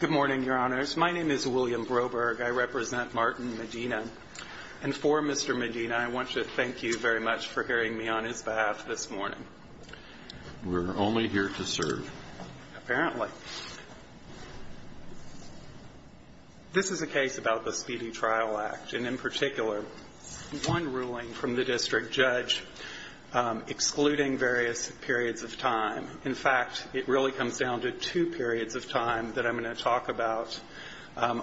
Good morning, Your Honors. My name is William Broberg. I represent Martin Medina. And for Mr. Medina, I want to thank you very much for hearing me on his behalf this morning. We're only here to serve. Apparently. This is a case about the Speedy Trial Act, and in particular, one ruling from the district judge excluding various periods of time. In fact, it really comes down to two periods of time that I'm going to talk about.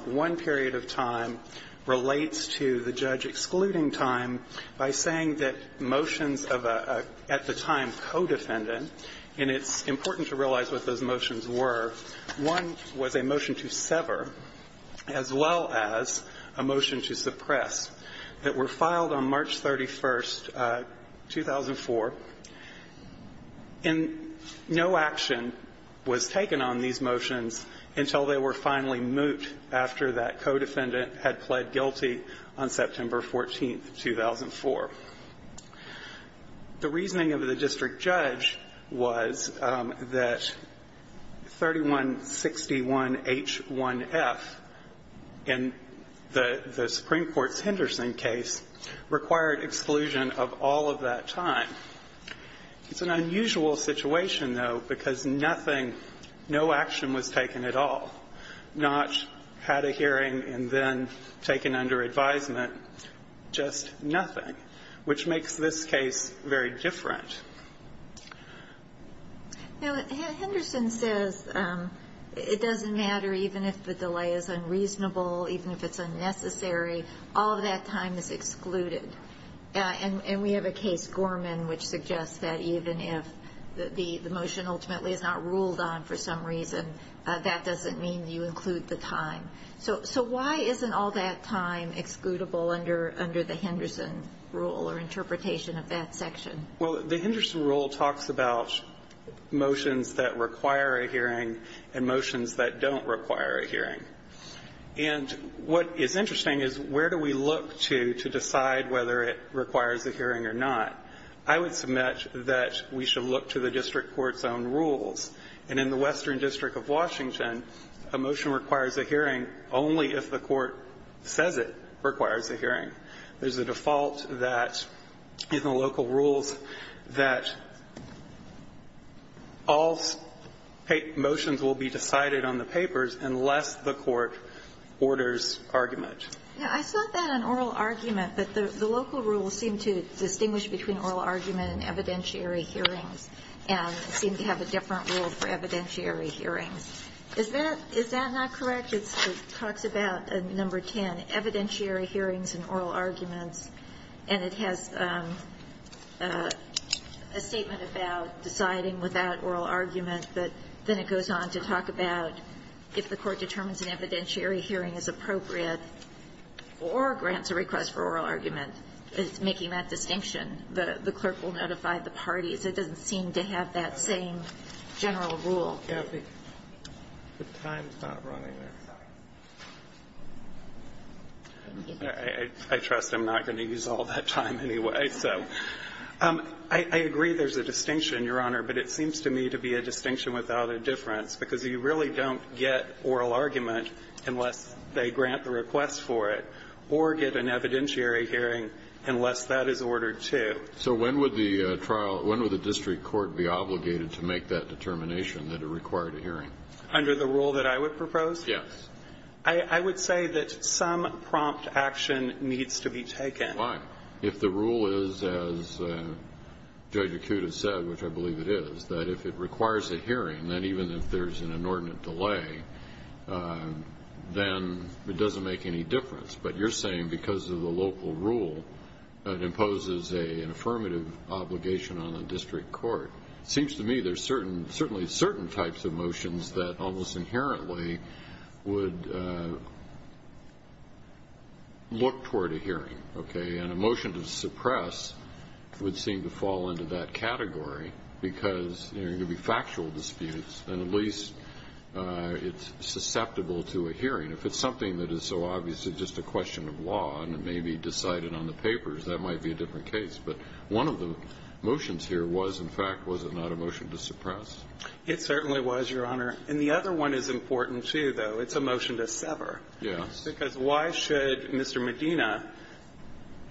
One period of time relates to the judge excluding time by saying that motions of a, at the time, co-defendant, and it's important to realize what those motions were. One was a motion to sever, as well as a motion to suppress, that were filed on March 31st, 2004. And no action was taken on these motions until they were finally mooted after that co-defendant had pled guilty on September 14th, 2004. The reasoning of the district judge was that 3161H1F in the Supreme Court's Henderson case required exclusion of all of that time. It's an unusual situation, though, because nothing, no action was taken at all. Not had a hearing and then taken under advisement. Just nothing. Which makes this case very different. Now, Henderson says it doesn't matter even if the delay is unreasonable, even if it's unnecessary, all of that time is excluded. And we have a case, Gorman, which suggests that even if the motion ultimately is not ruled on for some reason, that doesn't mean you include the time. So why isn't all that time excludable under the Henderson rule or interpretation of that section? Well, the Henderson rule talks about motions that require a hearing and motions that don't require a hearing. And what is interesting is where do we look to decide whether it requires a hearing or not? I would submit that we should look to the district court's own rules. And in the Western District of Washington, a motion requires a hearing only if the court says it requires a hearing. There's a default that, in the local rules, that all motions will be decided on the papers unless the court orders argument. Now, I saw that in oral argument, that the local rules seem to distinguish between oral argument and evidentiary hearings and seem to have a different rule for evidentiary hearings. Is that not correct? It talks about number 10, evidentiary hearings and oral arguments. And it has a statement about deciding without oral argument, but then it goes on to talk about if the court determines an evidentiary hearing is appropriate or grants a request for oral argument. It's making that distinction. The clerk will notify the parties. It doesn't seem to have that same general rule. Well, Kathy, the time's not running. I trust I'm not going to use all that time anyway. So I agree there's a distinction, Your Honor, but it seems to me to be a distinction without a difference, because you really don't get oral argument unless they grant the request for it or get an evidentiary hearing unless that is ordered, too. So when would the trial, when would the district court be obligated to make that determination that it required a hearing? Under the rule that I would propose? Yes. I would say that some prompt action needs to be taken. Why? If the rule is, as Judge Acuta said, which I believe it is, that if it requires a hearing, then even if there's an inordinate delay, then it doesn't make any difference. But you're saying because of the local rule, it imposes an affirmative obligation on the district court. It seems to me there's certainly certain types of motions that almost inherently would look toward a hearing, okay? And a motion to suppress would seem to fall into that category because there are going to be factual disputes, and at least it's susceptible to a hearing. If it's something that is so obviously just a question of law and it may be decided on the papers, that might be a different case. But one of the motions here was, in fact, was it not a motion to suppress? It certainly was, Your Honor. And the other one is important, too, though. It's a motion to sever. Yes. Because why should Mr. Medina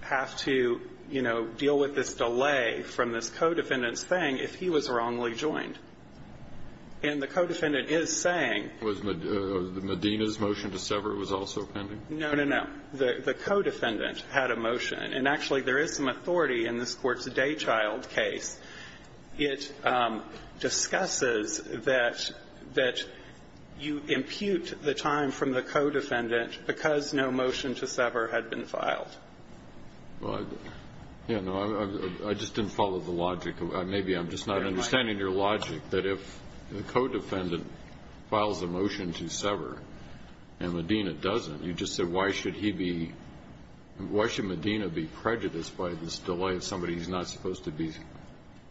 have to, you know, deal with this delay from this co-defendant's thing if he was wrongly joined? And the co-defendant is saying was Medina's motion to sever was also pending? No, no, no. The co-defendant had a motion. And actually, there is some authority in this Court's Daychild case. It discusses that you impute the time from the co-defendant because no motion to sever had been filed. Well, I just didn't follow the logic. Maybe I'm just not understanding your logic. But if the co-defendant files a motion to sever and Medina doesn't, you just said why should he be, why should Medina be prejudiced by this delay of somebody he's not supposed to be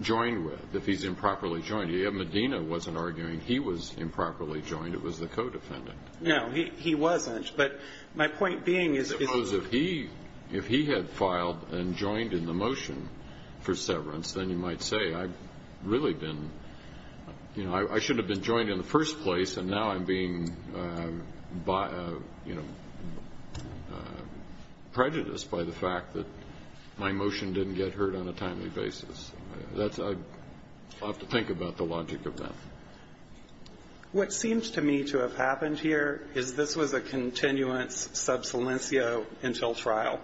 joined with if he's improperly joined? Medina wasn't arguing he was improperly joined. It was the co-defendant. No, he wasn't. But my point being is if he had filed and joined in the motion for severance, then you might say I should have been joined in the first place and now I'm being prejudiced by the fact that my motion didn't get heard on a timely basis. I'll have to think about the logic of that. What seems to me to have happened here is this was a continuance sub silencio until trial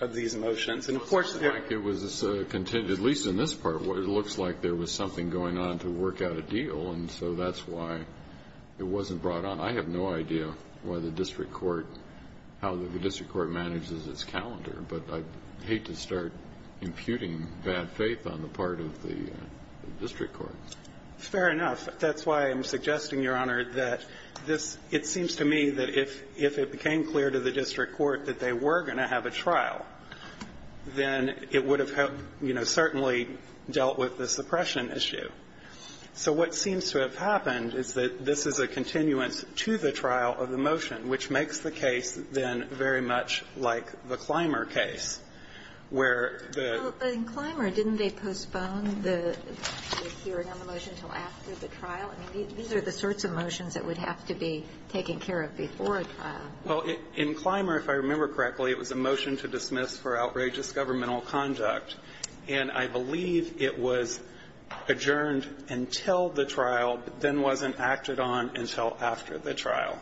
of these motions. It looks like it was a continuance, at least in this part. It looks like there was something going on to work out a deal. And so that's why it wasn't brought on. I have no idea why the district court, how the district court manages its calendar. But I'd hate to start imputing bad faith on the part of the district court. Fair enough. That's why I'm suggesting, Your Honor, that this seems to me that if it became clear to the district court that they were going to have a trial, then it would have helped, you know, certainly dealt with the suppression issue. So what seems to have happened is that this is a continuance to the trial of the motion, which makes the case, then, very much like the Clymer case, where the ---- Well, in Clymer, didn't they postpone the hearing on the motion until after the trial? I mean, these are the sorts of motions that would have to be taken care of before a trial. Well, in Clymer, if I remember correctly, it was a motion to dismiss for outrageous governmental conduct. And I believe it was adjourned until the trial, then wasn't acted on until after the trial.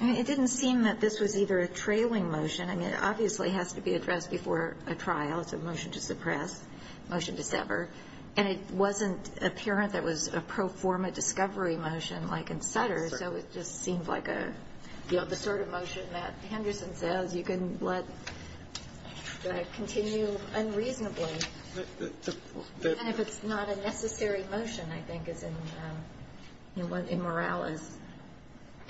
I mean, it didn't seem that this was either a trailing motion. I mean, it obviously has to be addressed before a trial. It's a motion to suppress, motion to sever. And it wasn't apparent that it was a pro forma discovery motion like in Sutter. That's right. It seems like a, you know, the sort of motion that Henderson says you can let continue unreasonably. And if it's not a necessary motion, I think, is in, you know, what immorality is.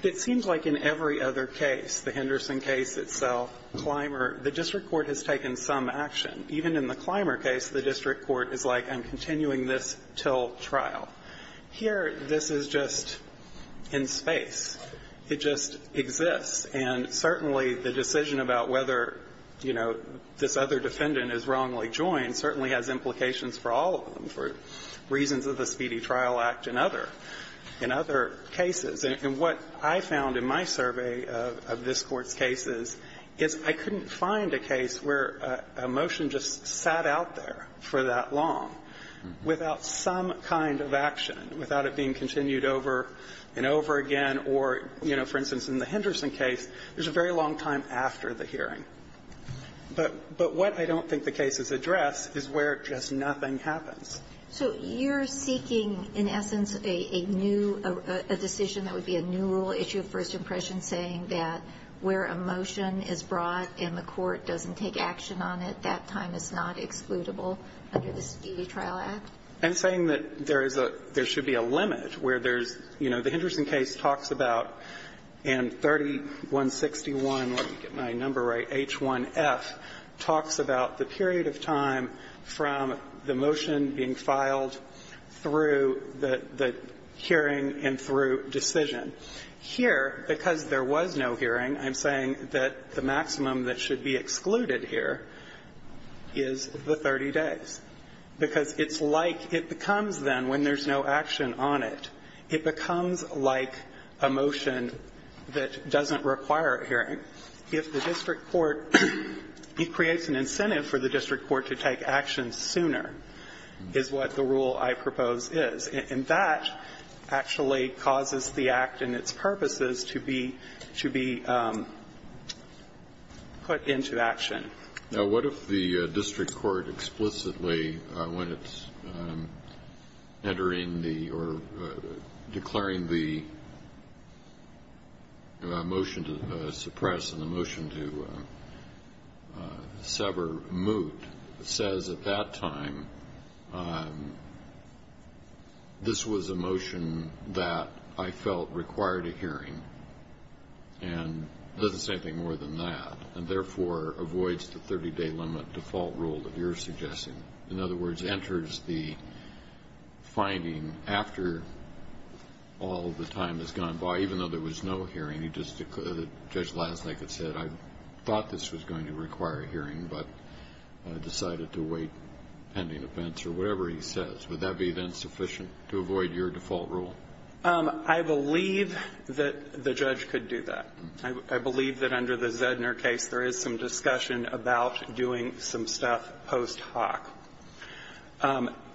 It seems like in every other case, the Henderson case itself, Clymer, the district court has taken some action. Even in the Clymer case, the district court is like, I'm continuing this until trial. Here, this is just in space. It just exists. And certainly the decision about whether, you know, this other defendant is wrongly joined certainly has implications for all of them, for reasons of the Speedy Trial Act and other, in other cases. And what I found in my survey of this Court's cases is I couldn't find a case where a motion just sat out there for that long without some kind of action, without it being continued over and over again. Or, you know, for instance, in the Henderson case, there's a very long time after the hearing. But what I don't think the cases address is where just nothing happens. So you're seeking, in essence, a new decision that would be a new rule issue of first impression, saying that where a motion is brought and the court doesn't take action on it, that time is not excludable under the Speedy Trial Act? I'm saying that there is a – there should be a limit where there's, you know, the Henderson case talks about in 3161, let me get my number right, H1F, talks about the period of time from the motion being filed through the hearing and through decision. Here, because there was no hearing, I'm saying that the maximum that should be excluded here is the 30 days, because it's like it becomes then, when there's no action on it, it becomes like a motion that doesn't require a hearing. If the district court – it creates an incentive for the district court to take action sooner, is what the rule I propose is. And that actually causes the act and its purposes to be – to be put into action. Now, what if the district court explicitly, when it's entering the – or declaring the motion to suppress and the motion to sever moot, says at that time, you know, this was a motion that I felt required a hearing, and does the same thing more than that, and therefore avoids the 30-day limit default rule that you're suggesting? In other words, enters the finding after all the time has gone by, even though there was no hearing, he just – Judge Lasnik had said, I thought this was going to require a hearing, but decided to wait pending offense, or whatever he says. Would that be then sufficient to avoid your default rule? I believe that the judge could do that. I believe that under the Zedner case, there is some discussion about doing some stuff post hoc.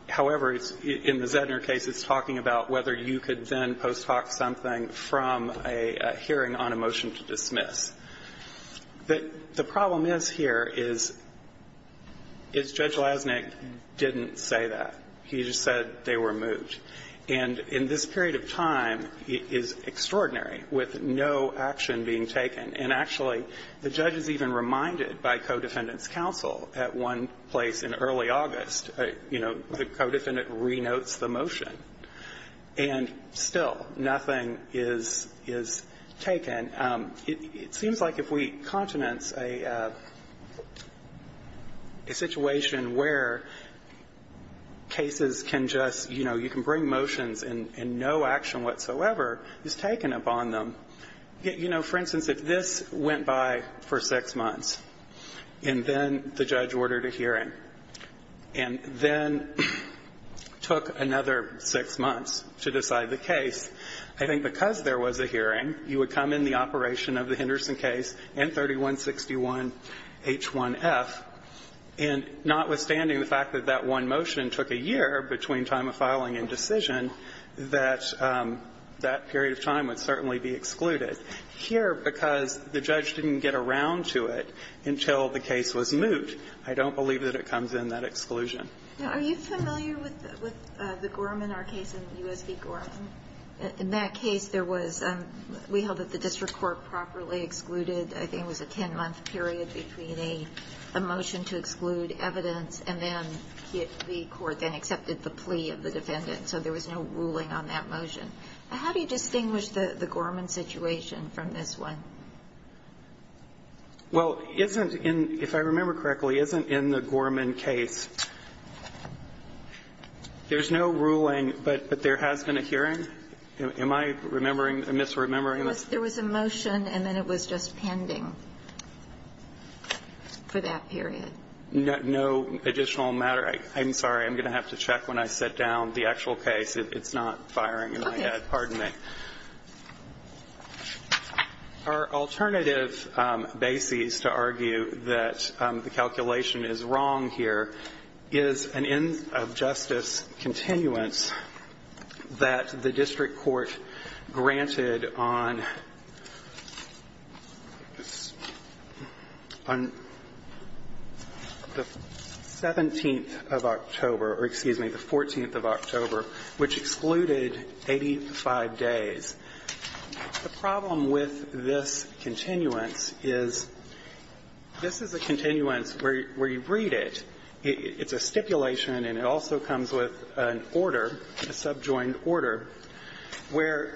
However, in the Zedner case, it's talking about whether you could then post hoc something from a hearing on a motion to dismiss. The problem is here is Judge Lasnik didn't say that. He just said they were moot. And in this period of time, it is extraordinary, with no action being taken. And actually, the judge is even reminded by co-defendant's counsel at one place in early August, you know, the co-defendant renotes the motion. And still, nothing is taken. And it seems like if we continent a situation where cases can just, you know, you can bring motions and no action whatsoever is taken upon them. You know, for instance, if this went by for six months, and then the judge ordered a hearing, and then took another six months to decide the case, I think because there was a hearing, you would come in the operation of the Henderson case and 3161 H1F, and notwithstanding the fact that that one motion took a year between time of filing and decision, that that period of time would certainly be excluded. Here, because the judge didn't get around to it until the case was moot, I don't believe that it comes in that exclusion. Now, are you familiar with the Gorman, our case in U.S. v. Gorman? In that case, we held that the district court properly excluded, I think it was a 10-month period between a motion to exclude evidence, and then the court then accepted the plea of the defendant. So there was no ruling on that motion. How do you distinguish the Gorman situation from this one? Well, isn't in, if I remember correctly, isn't in the Gorman case, there's no ruling, but there has been a hearing? Am I remembering, misremembering? There was a motion, and then it was just pending for that period. No additional matter? I'm sorry, I'm going to have to check when I sit down the actual case. It's not firing in my head. Pardon me. Our alternative basis to argue that the calculation is wrong here is an end-of-justice continuance that the district court granted on the 17th of October, or excuse me, the 14th of October, which excluded 85 days. The problem with this continuance is this is a continuance where you read it, it's a stipulation, and it also comes with an order, a subjoined order, where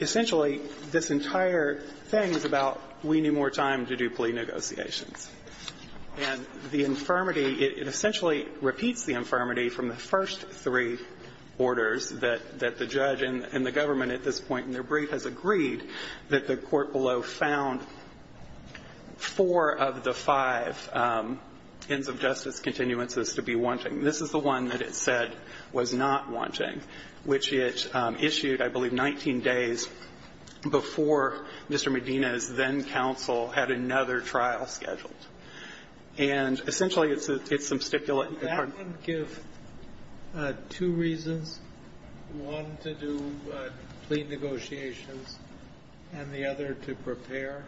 essentially this entire thing is about we need more time to do plea negotiations. And the infirmity, it essentially repeats the infirmity from the first three orders that the judge and the government at this point in their brief has agreed that the court below found four of the five ends-of-justice continuances to be wanting. This is the one that it said was not wanting, which it issued, I believe, 19 days before Mr. Medina's then-counsel had another trial scheduled. And essentially it's substituent. That would give two reasons, one to do plea negotiations and the other to prepare?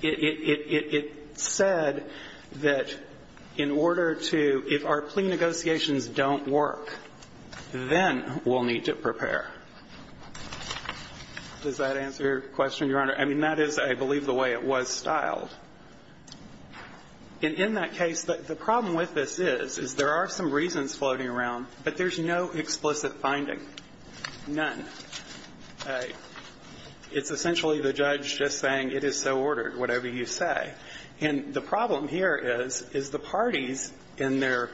It said that in order to – if our plea negotiations don't work, then we'll need to prepare. Does that answer your question, Your Honor? I mean, that is, I believe, the way it was styled. And in that case, the problem with this is, is there are some reasons floating around, but there's no explicit finding, none. It's essentially the judge just saying, it is so ordered, whatever you say. And the problem here is, is the parties in their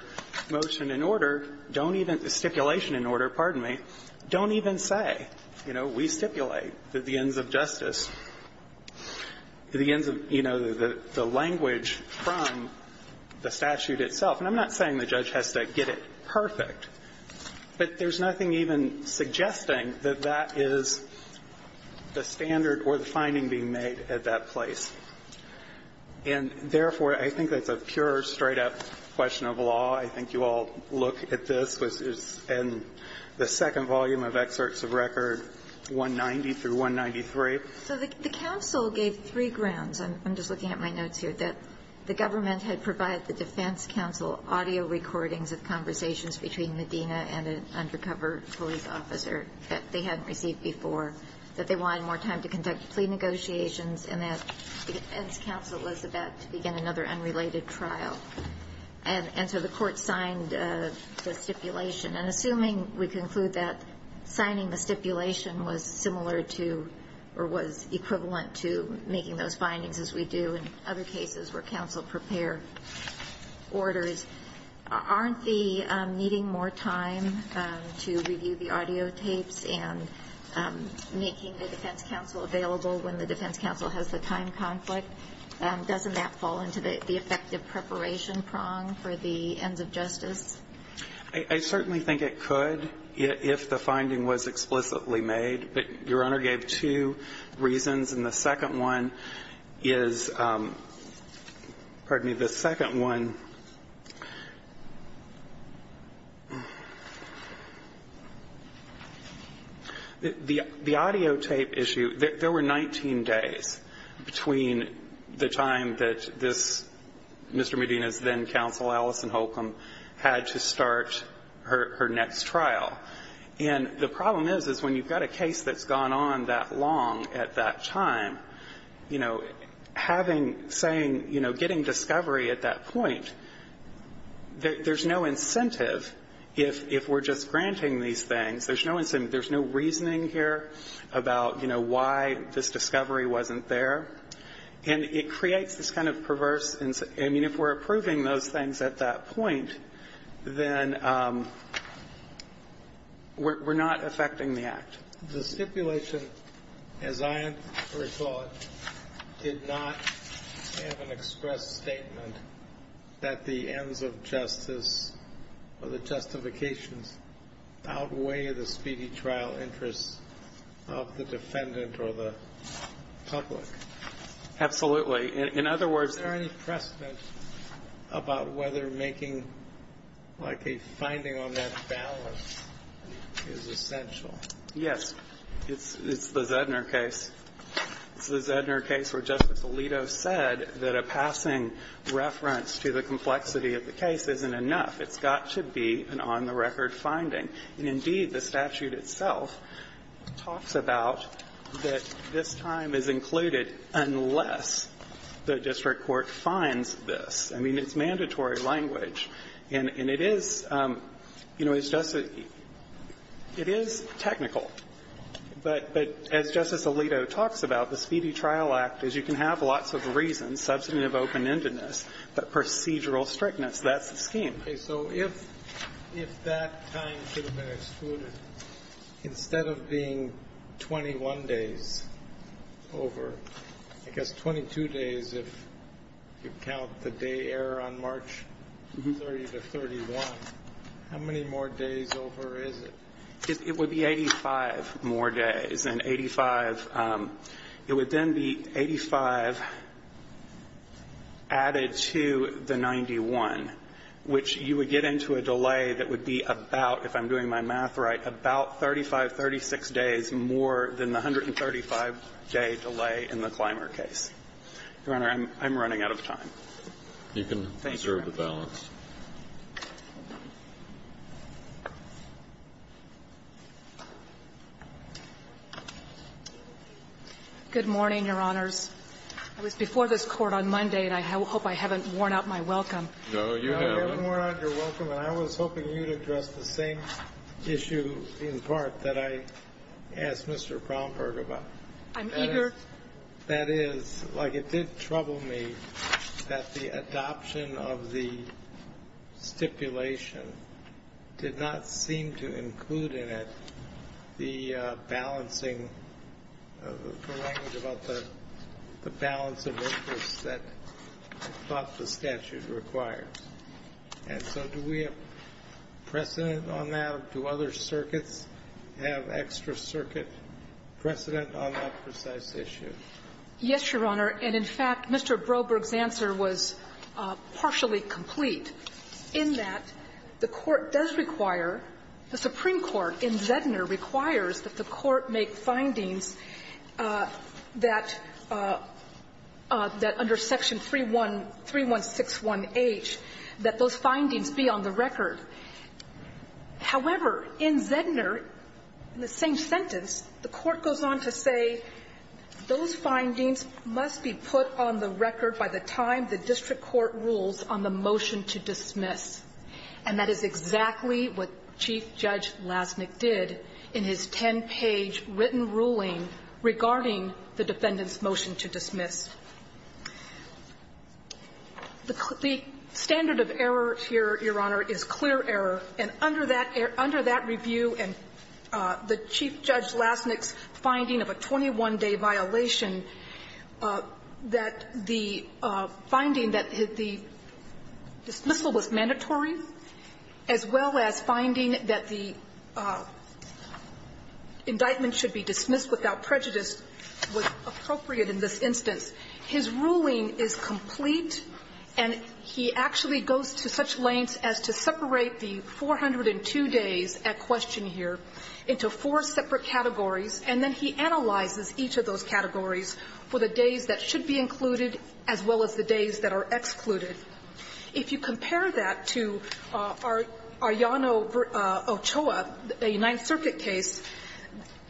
motion in order don't even – stipulation in order, pardon me – don't even say, you know, we stipulate that the ends-of-justice, the ends of, you know, the language from the statute itself. And I'm not saying the judge has to get it perfect, but there's nothing even suggesting that that is the standard or the finding being made at that place. And therefore, I think that's a pure, straight-up question of law. I think you all look at this, and the second volume of excerpts of record, 190 through 193. So the counsel gave three grounds. I'm just looking at my notes here, that the government had provided the defense counsel audio recordings of conversations between Medina and an undercover police officer that they hadn't received before, that they wanted more time to conduct plea negotiations, and that the defense counsel was about to begin another unrelated trial. And so the court signed the stipulation. And assuming we conclude that signing the stipulation was similar to or was equivalent to making those findings, as we do in other cases where counsel prepare orders, aren't the needing more time to review the audiotapes and making the defense counsel available when the defense counsel has the time conflict, doesn't that fall into the effective preparation prong for the ends of justice? I certainly think it could, if the finding was explicitly made. But Your Honor gave two reasons, and the second one is – pardon me. The second one – the audio tape issue, there were 19 days between the time that this Mr. Medina's then counsel, Alison Holcomb, had to start her next trial. And the problem is, is when you've got a case that's gone on that long at that time, you know, having – saying, you know, getting discovery at that point, there's no incentive if we're just granting these things. There's no incentive. There's no reasoning here about, you know, why this discovery wasn't there. And it creates this kind of perverse – I mean, if we're approving those things at that point, then we're not affecting the act. The stipulation, as I recall it, did not have an express statement that the ends of justice or the justifications outweigh the speedy trial interests of the defendant or the public. Absolutely. In other words – Is there any precedent about whether making like a finding on that balance is essential? Yes. It's the Zedner case. It's the Zedner case where Justice Alito said that a passing reference to the complexity of the case isn't enough. It's got to be an on-the-record finding. And indeed, the statute itself talks about that this time is included unless the district court finds this. I mean, it's mandatory language. And it is – you know, it's just – it is technical. But as Justice Alito talks about, the Speedy Trial Act is you can have lots of reasons, substantive open-endedness, but procedural strictness, that's the scheme. Okay. So if that time could have been excluded, instead of being 21 days over, I guess 22 days if you count the day error on March 30 to 31, how many more days over is it? It would be 85 more days. And 85 – it would then be 85 added to the 91, which you would get into a delay that would be about, if I'm doing my math right, about 35, 36 days more than the 135-day delay in the Clymer case. Your Honor, I'm running out of time. Thank you, Your Honor. You can reserve the balance. Good morning, Your Honors. I was before this Court on Monday, and I hope I haven't worn out my welcome. No, you haven't. No, you haven't worn out your welcome. And I was hoping you'd address the same issue in part that I asked Mr. Brownberg about. I'm eager. In part, that is, like, it did trouble me that the adoption of the stipulation did not seem to include in it the balancing – the language about the balance of interest that I thought the statute required. And so do we have precedent on that? Do other circuits have extra circuit precedent on that precise issue? Yes, Your Honor. And, in fact, Mr. Brownberg's answer was partially complete in that the Court does require – the Supreme Court in Zedner requires that the Court make findings that – that under Section 3161H, that those findings be on the record. However, in Zedner, in the same sentence, the Court goes on to say those findings must be put on the record by the time the district court rules on the motion to dismiss. And that is exactly what Chief Judge Lasnik did in his 10-page written ruling regarding the defendant's motion to dismiss. The – the standard of error here, Your Honor, is clear error. And under that – under that review and the Chief Judge Lasnik's finding of a 21-day violation, that the finding that the dismissal was mandatory, as well as finding that the indictment should be dismissed without prejudice was appropriate in this instance. His ruling is complete, and he actually goes to such lengths as to separate the 402 days at question here into four separate categories, and then he analyzes each of those categories for the days that should be included, as well as the days that are excluded. If you compare that to Arjano-Ochoa, a Ninth Circuit case,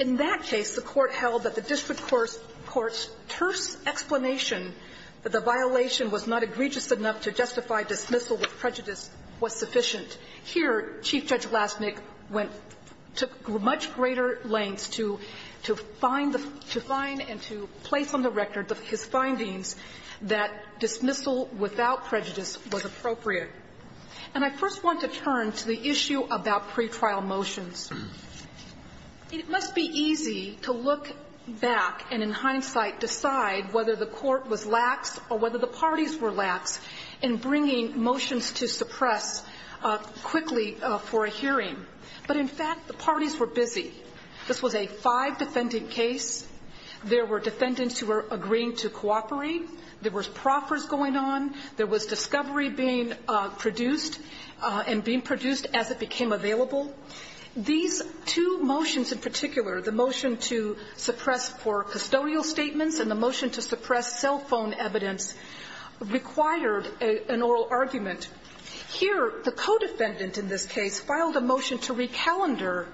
in that case, the Court held that the district court's terse explanation that the violation was not egregious enough to justify dismissal with prejudice was sufficient. Here, Chief Judge Lasnik went to much greater lengths to find the – to find and to place on the record his findings that dismissal without prejudice was appropriate. And I first want to turn to the issue about pretrial motions. It must be easy to look back and, in hindsight, decide whether the court was lax or whether the parties were lax in bringing motions to suppress quickly for a hearing. But, in fact, the parties were busy. This was a five-defendant case. There were defendants who were agreeing to cooperate. There were proffers going on. There was discovery being produced, and being produced as it became available. These two motions in the motion for custodial statements and the motion to suppress cell phone evidence required an oral argument. Here, the co-defendant in this case filed a motion to recalendar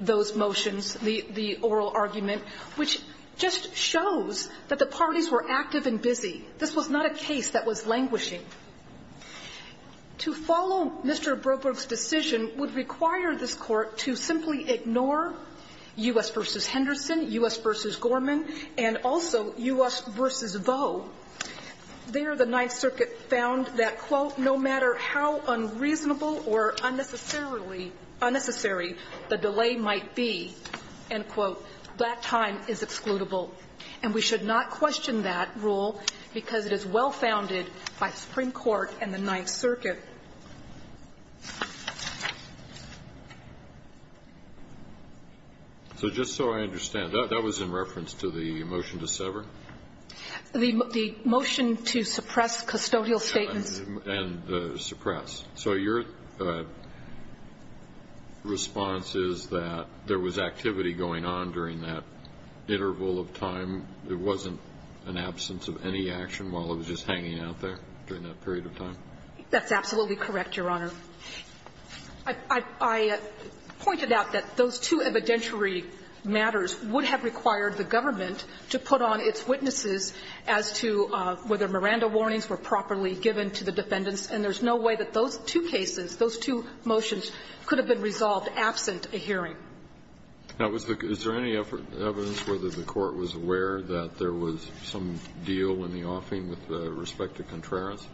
those motions, the oral argument, which just shows that the parties were active and busy. This was not a case that was languishing. To follow Mr. Broberg's decision would require this court to simply ignore U.S. v. Henderson, U.S. v. Gorman, and also U.S. v. Vaux. There, the Ninth Circuit found that, quote, no matter how unreasonable or unnecessarily – unnecessary the delay might be, end quote, that time is excludable. And we should not question that rule because it is well-founded by the Supreme Court and the Ninth Circuit. So just so I understand, that was in reference to the motion to sever? The motion to suppress custodial statements. And suppress. So your response is that there was activity going on during that period of time? That's absolutely correct, Your Honor. I pointed out that those two evidentiary matters would have required the government to put on its witnesses as to whether Miranda warnings were properly given to the defendants, and there's no way that those two cases, those two motions could have been resolved absent a hearing. Now, is there any evidence whether the court was aware that there was some deal in the offing with respect to Contreras?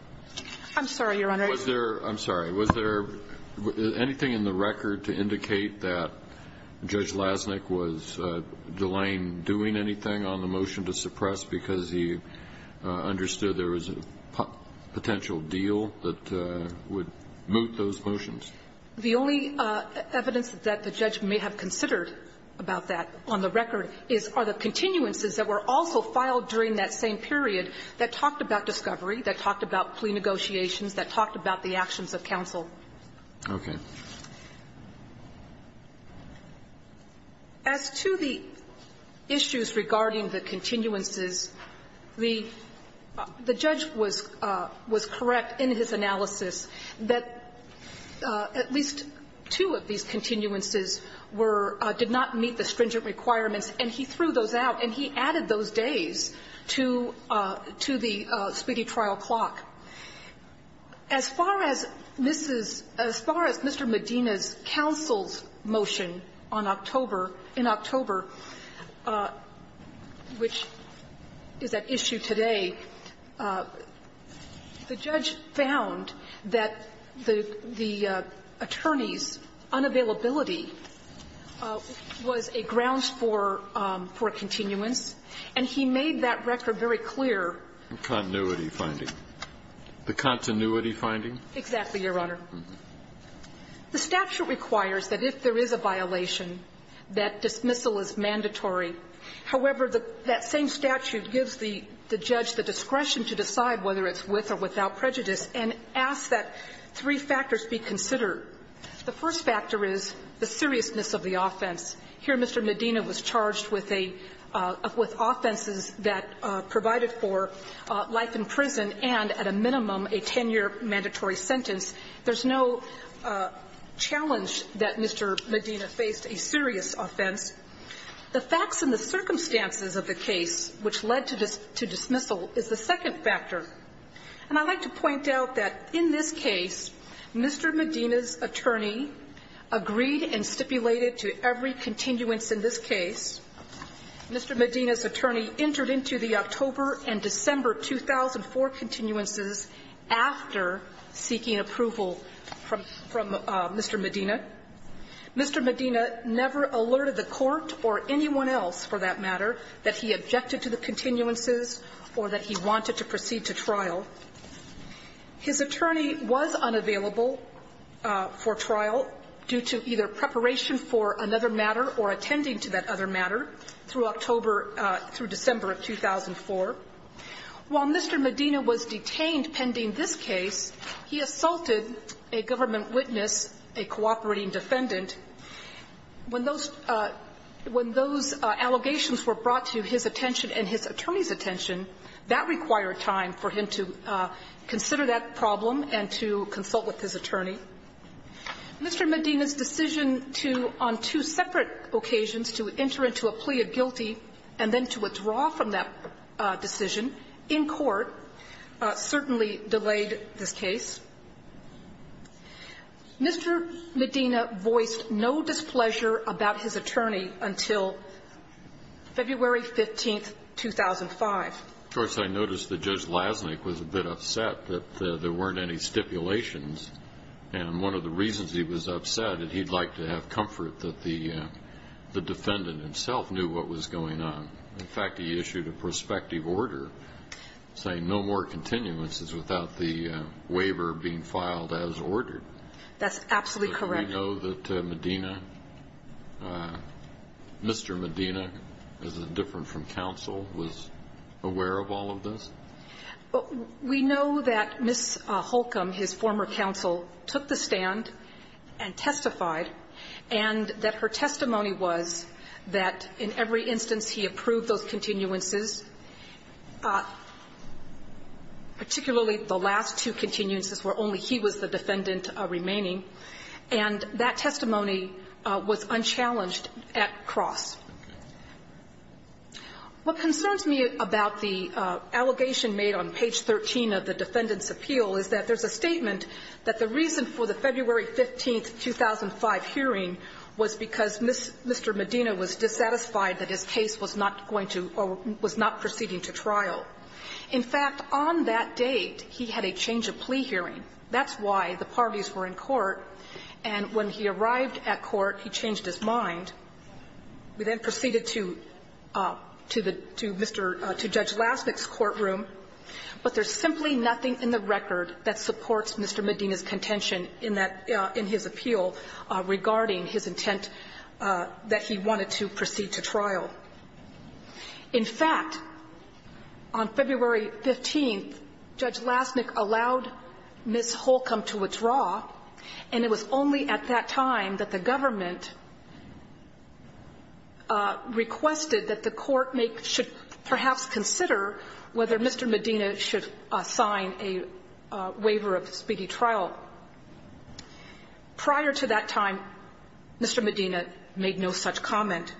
I'm sorry, Your Honor. Was there – I'm sorry. Was there anything in the record to indicate that Judge Lasnik was delaying doing anything on the motion to suppress because he understood there was a potential deal that would moot those motions? The only evidence that the judge may have considered about that on the record is, are the continuances that were also filed during that same period that talked about discovery, that talked about plea negotiations, that talked about the actions of counsel. Okay. As to the issues regarding the continuances, the judge was correct in his analysis that at least two of these continuances were – did not meet the stringent requirements, and he threw those out, and he added those days to the speedy trial clock. As far as Mrs. – as far as Mr. Medina's counsel's motion on October – in October, which is at issue today, the judge found that there was some deal that the attorneys' unavailability was a grounds for – for continuance, and he made that record very clear. The continuity finding. The continuity finding? Exactly, Your Honor. Mm-hmm. The statute requires that if there is a violation, that dismissal is mandatory. However, that same statute gives the judge the discretion to decide whether it's with or without prejudice, and asks that three factors be considered. The first factor is the seriousness of the offense. Here, Mr. Medina was charged with a – with offenses that provided for life in prison and, at a minimum, a 10-year mandatory sentence. There's no challenge that Mr. Medina faced a serious offense. The facts and the circumstances of the case which led to dismissal is the second factor. And I'd like to point out that in this case, Mr. Medina's attorney agreed and stipulated to every continuance in this case. Mr. Medina's attorney entered into the October and December 2004 continuances after seeking approval from – from Mr. Medina. Mr. Medina never alerted the court or anyone else, for that matter, that he wanted to proceed to trial. His attorney was unavailable for trial due to either preparation for another matter or attending to that other matter through October – through December of 2004. While Mr. Medina was detained pending this case, he assaulted a government witness, a cooperating defendant. When those – when those allegations were brought to his attention and his attorney's attention, that required time for him to consider that problem and to consult with his attorney. Mr. Medina's decision to, on two separate occasions, to enter into a plea of guilty and then to withdraw from that decision in court certainly delayed this case. Mr. Medina voiced no displeasure about his attorney until February 15, 2005. Of course, I noticed that Judge Lasnik was a bit upset that there weren't any stipulations. And one of the reasons he was upset is he'd like to have comfort that the defendant himself knew what was going on. In fact, he issued a plea of no displeasure about the waiver being filed as ordered. That's absolutely correct. Did we know that Medina – Mr. Medina, is it different from counsel, was aware of all of this? We know that Ms. Holcomb, his former counsel, took the stand and testified and that her testimony was that in every instance he approved those continuances, particularly the last two continuances where only he was the defendant remaining, and that testimony was unchallenged at cross. What concerns me about the allegation made on page 13 of the Defendant's Appeal is that there's a statement that the reason for the February 15, 2005 hearing was because Mr. Medina was dissatisfied that his case was not going to or was not proceeding to trial. In fact, on that date, he had a change-of-plea hearing. That's why the parties were in court. And when he arrived at court, he changed his mind. We then proceeded to the – to Mr. – to Judge Lasnik's courtroom. But there's simply nothing in the record that supports Mr. Medina's decision to not proceed to trial. In fact, on February 15, Judge Lasnik allowed Ms. Holcomb to withdraw, and it was only at that time that the government requested that the court make – should perhaps consider whether Mr. Medina should sign a waiver of speedy trial. Prior to that time, Mr. Medina made no such comment.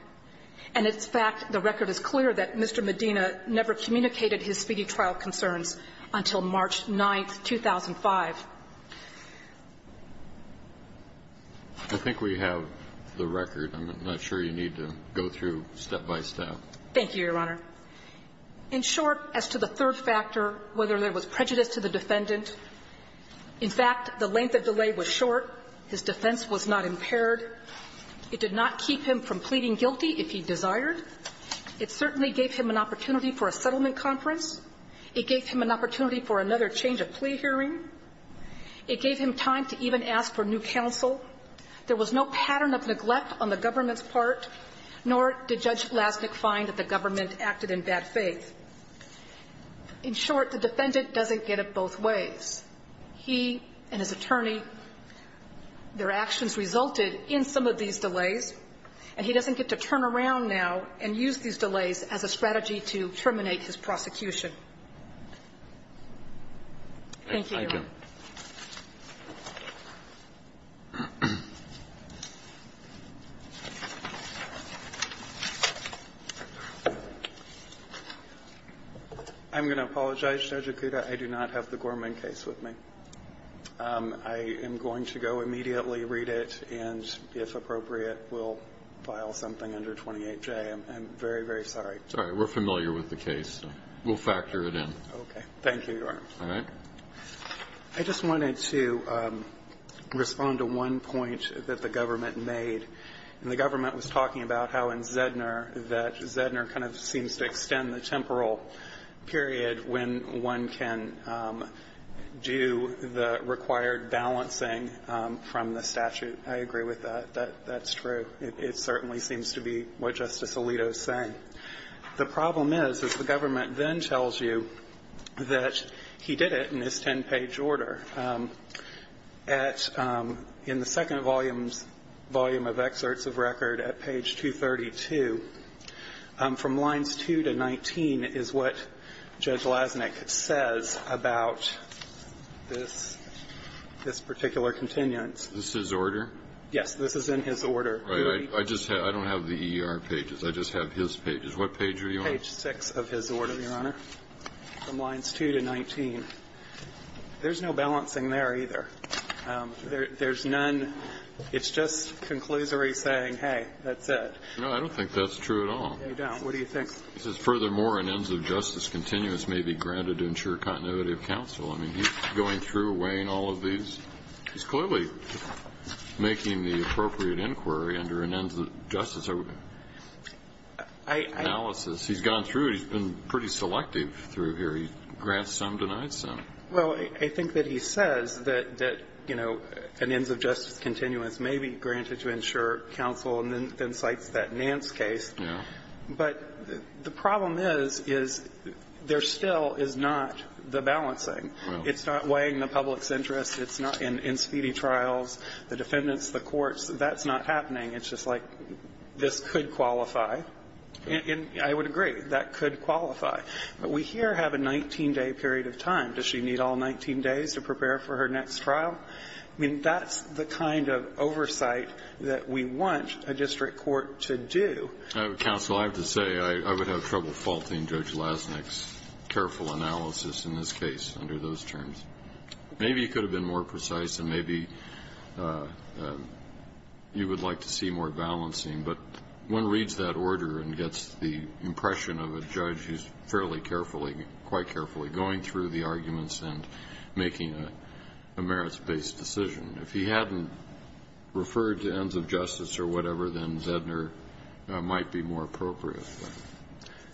And in fact, the record is clear that Mr. Medina never communicated his speedy trial concerns until March 9, 2005. I think we have the record. I'm not sure you need to go through step by step. Thank you, Your Honor. In short, as to the third factor, whether there was prejudice to the defendant, in fact, the length of delay was short. His defense was not impaired. It did not keep him from pleading guilty if he desired. It certainly gave him an opportunity for a settlement conference. It gave him an opportunity for another change of plea hearing. It gave him time to even ask for new counsel. There was no pattern of neglect on the government's part, nor did Judge Lasnik find that the government acted in bad faith. In short, the defendant doesn't get it both ways. He and his attorney, their actions resulted in some of these delays, and he doesn't get to turn around now and use these delays as a strategy to terminate his prosecution. Thank you, Your Honor. Thank you. I'm going to apologize, Judge Akuta. I do not have the Gorman case with me. I am going to go immediately read it, and if appropriate, we'll file something under 28J. I'm very, very sorry. Sorry. We're familiar with the case. We'll factor it in. Okay. Thank you, Your Honor. All right. I just wanted to point out that Justice Alito's argument kind of seems to extend the temporal period when one can do the required balancing from the statute. I agree with that. That's true. It certainly seems to be what Justice Alito is saying. The problem is, is the government then tells you that he did it in his ten-page order. In the second volume of excerpts of record at page 232, from lines 2 to 19 is what Judge Lasnik says about this particular continuance. This is his order? Yes. This is in his order. All right. I don't have the ER pages. I just have his pages. What page are you on? Page 6 of his order, Your Honor. From lines 2 to 19. There's no balancing there either. There's none. It's just conclusory saying, hey, that's it. No, I don't think that's true at all. You don't? What do you think? He says, furthermore, an ends of justice continuous may be granted to ensure continuity of counsel. I mean, he's going through, weighing all of these. He's clearly making the appropriate inquiry under an ends of justice analysis. He's gone through. He's been pretty selective through here. He grants some, denies some. Well, I think that he says that, you know, an ends of justice continuous may be granted to ensure counsel, and then cites that Nance case. But the problem is, is there still is not the balancing. It's not weighing the public's interest. It's not in speedy trials. The defendants, the courts, that's not happening. It's just like, this could qualify. And I would agree. That could qualify. But we here have a 19-day period of time. Does she need all 19 days to prepare for her next trial? I mean, that's the kind of oversight that we want a district court to do. Counsel, I have to say, I would have trouble faulting Judge Lasnik's careful analysis in this case under those terms. Maybe it could have been more precise, and maybe you would like to see more balancing. But one reads that order and gets the impression of a judge who's fairly carefully, quite carefully going through the arguments and making a merits-based decision. If he hadn't referred to ends of justice or whatever, then Zedner might be more appropriate.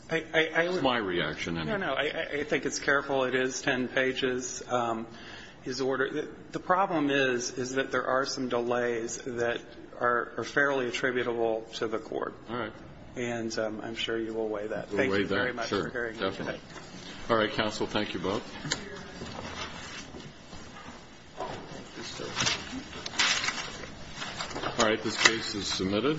That's my reaction. No, no. I think it's careful. It is ten pages. His order the problem is, is that there are some delays that are fairly attributable to the court. All right. And I'm sure you will weigh that. Thank you very much for hearing me today. All right, counsel. Thank you both. All right. This case is submitted. Thank you.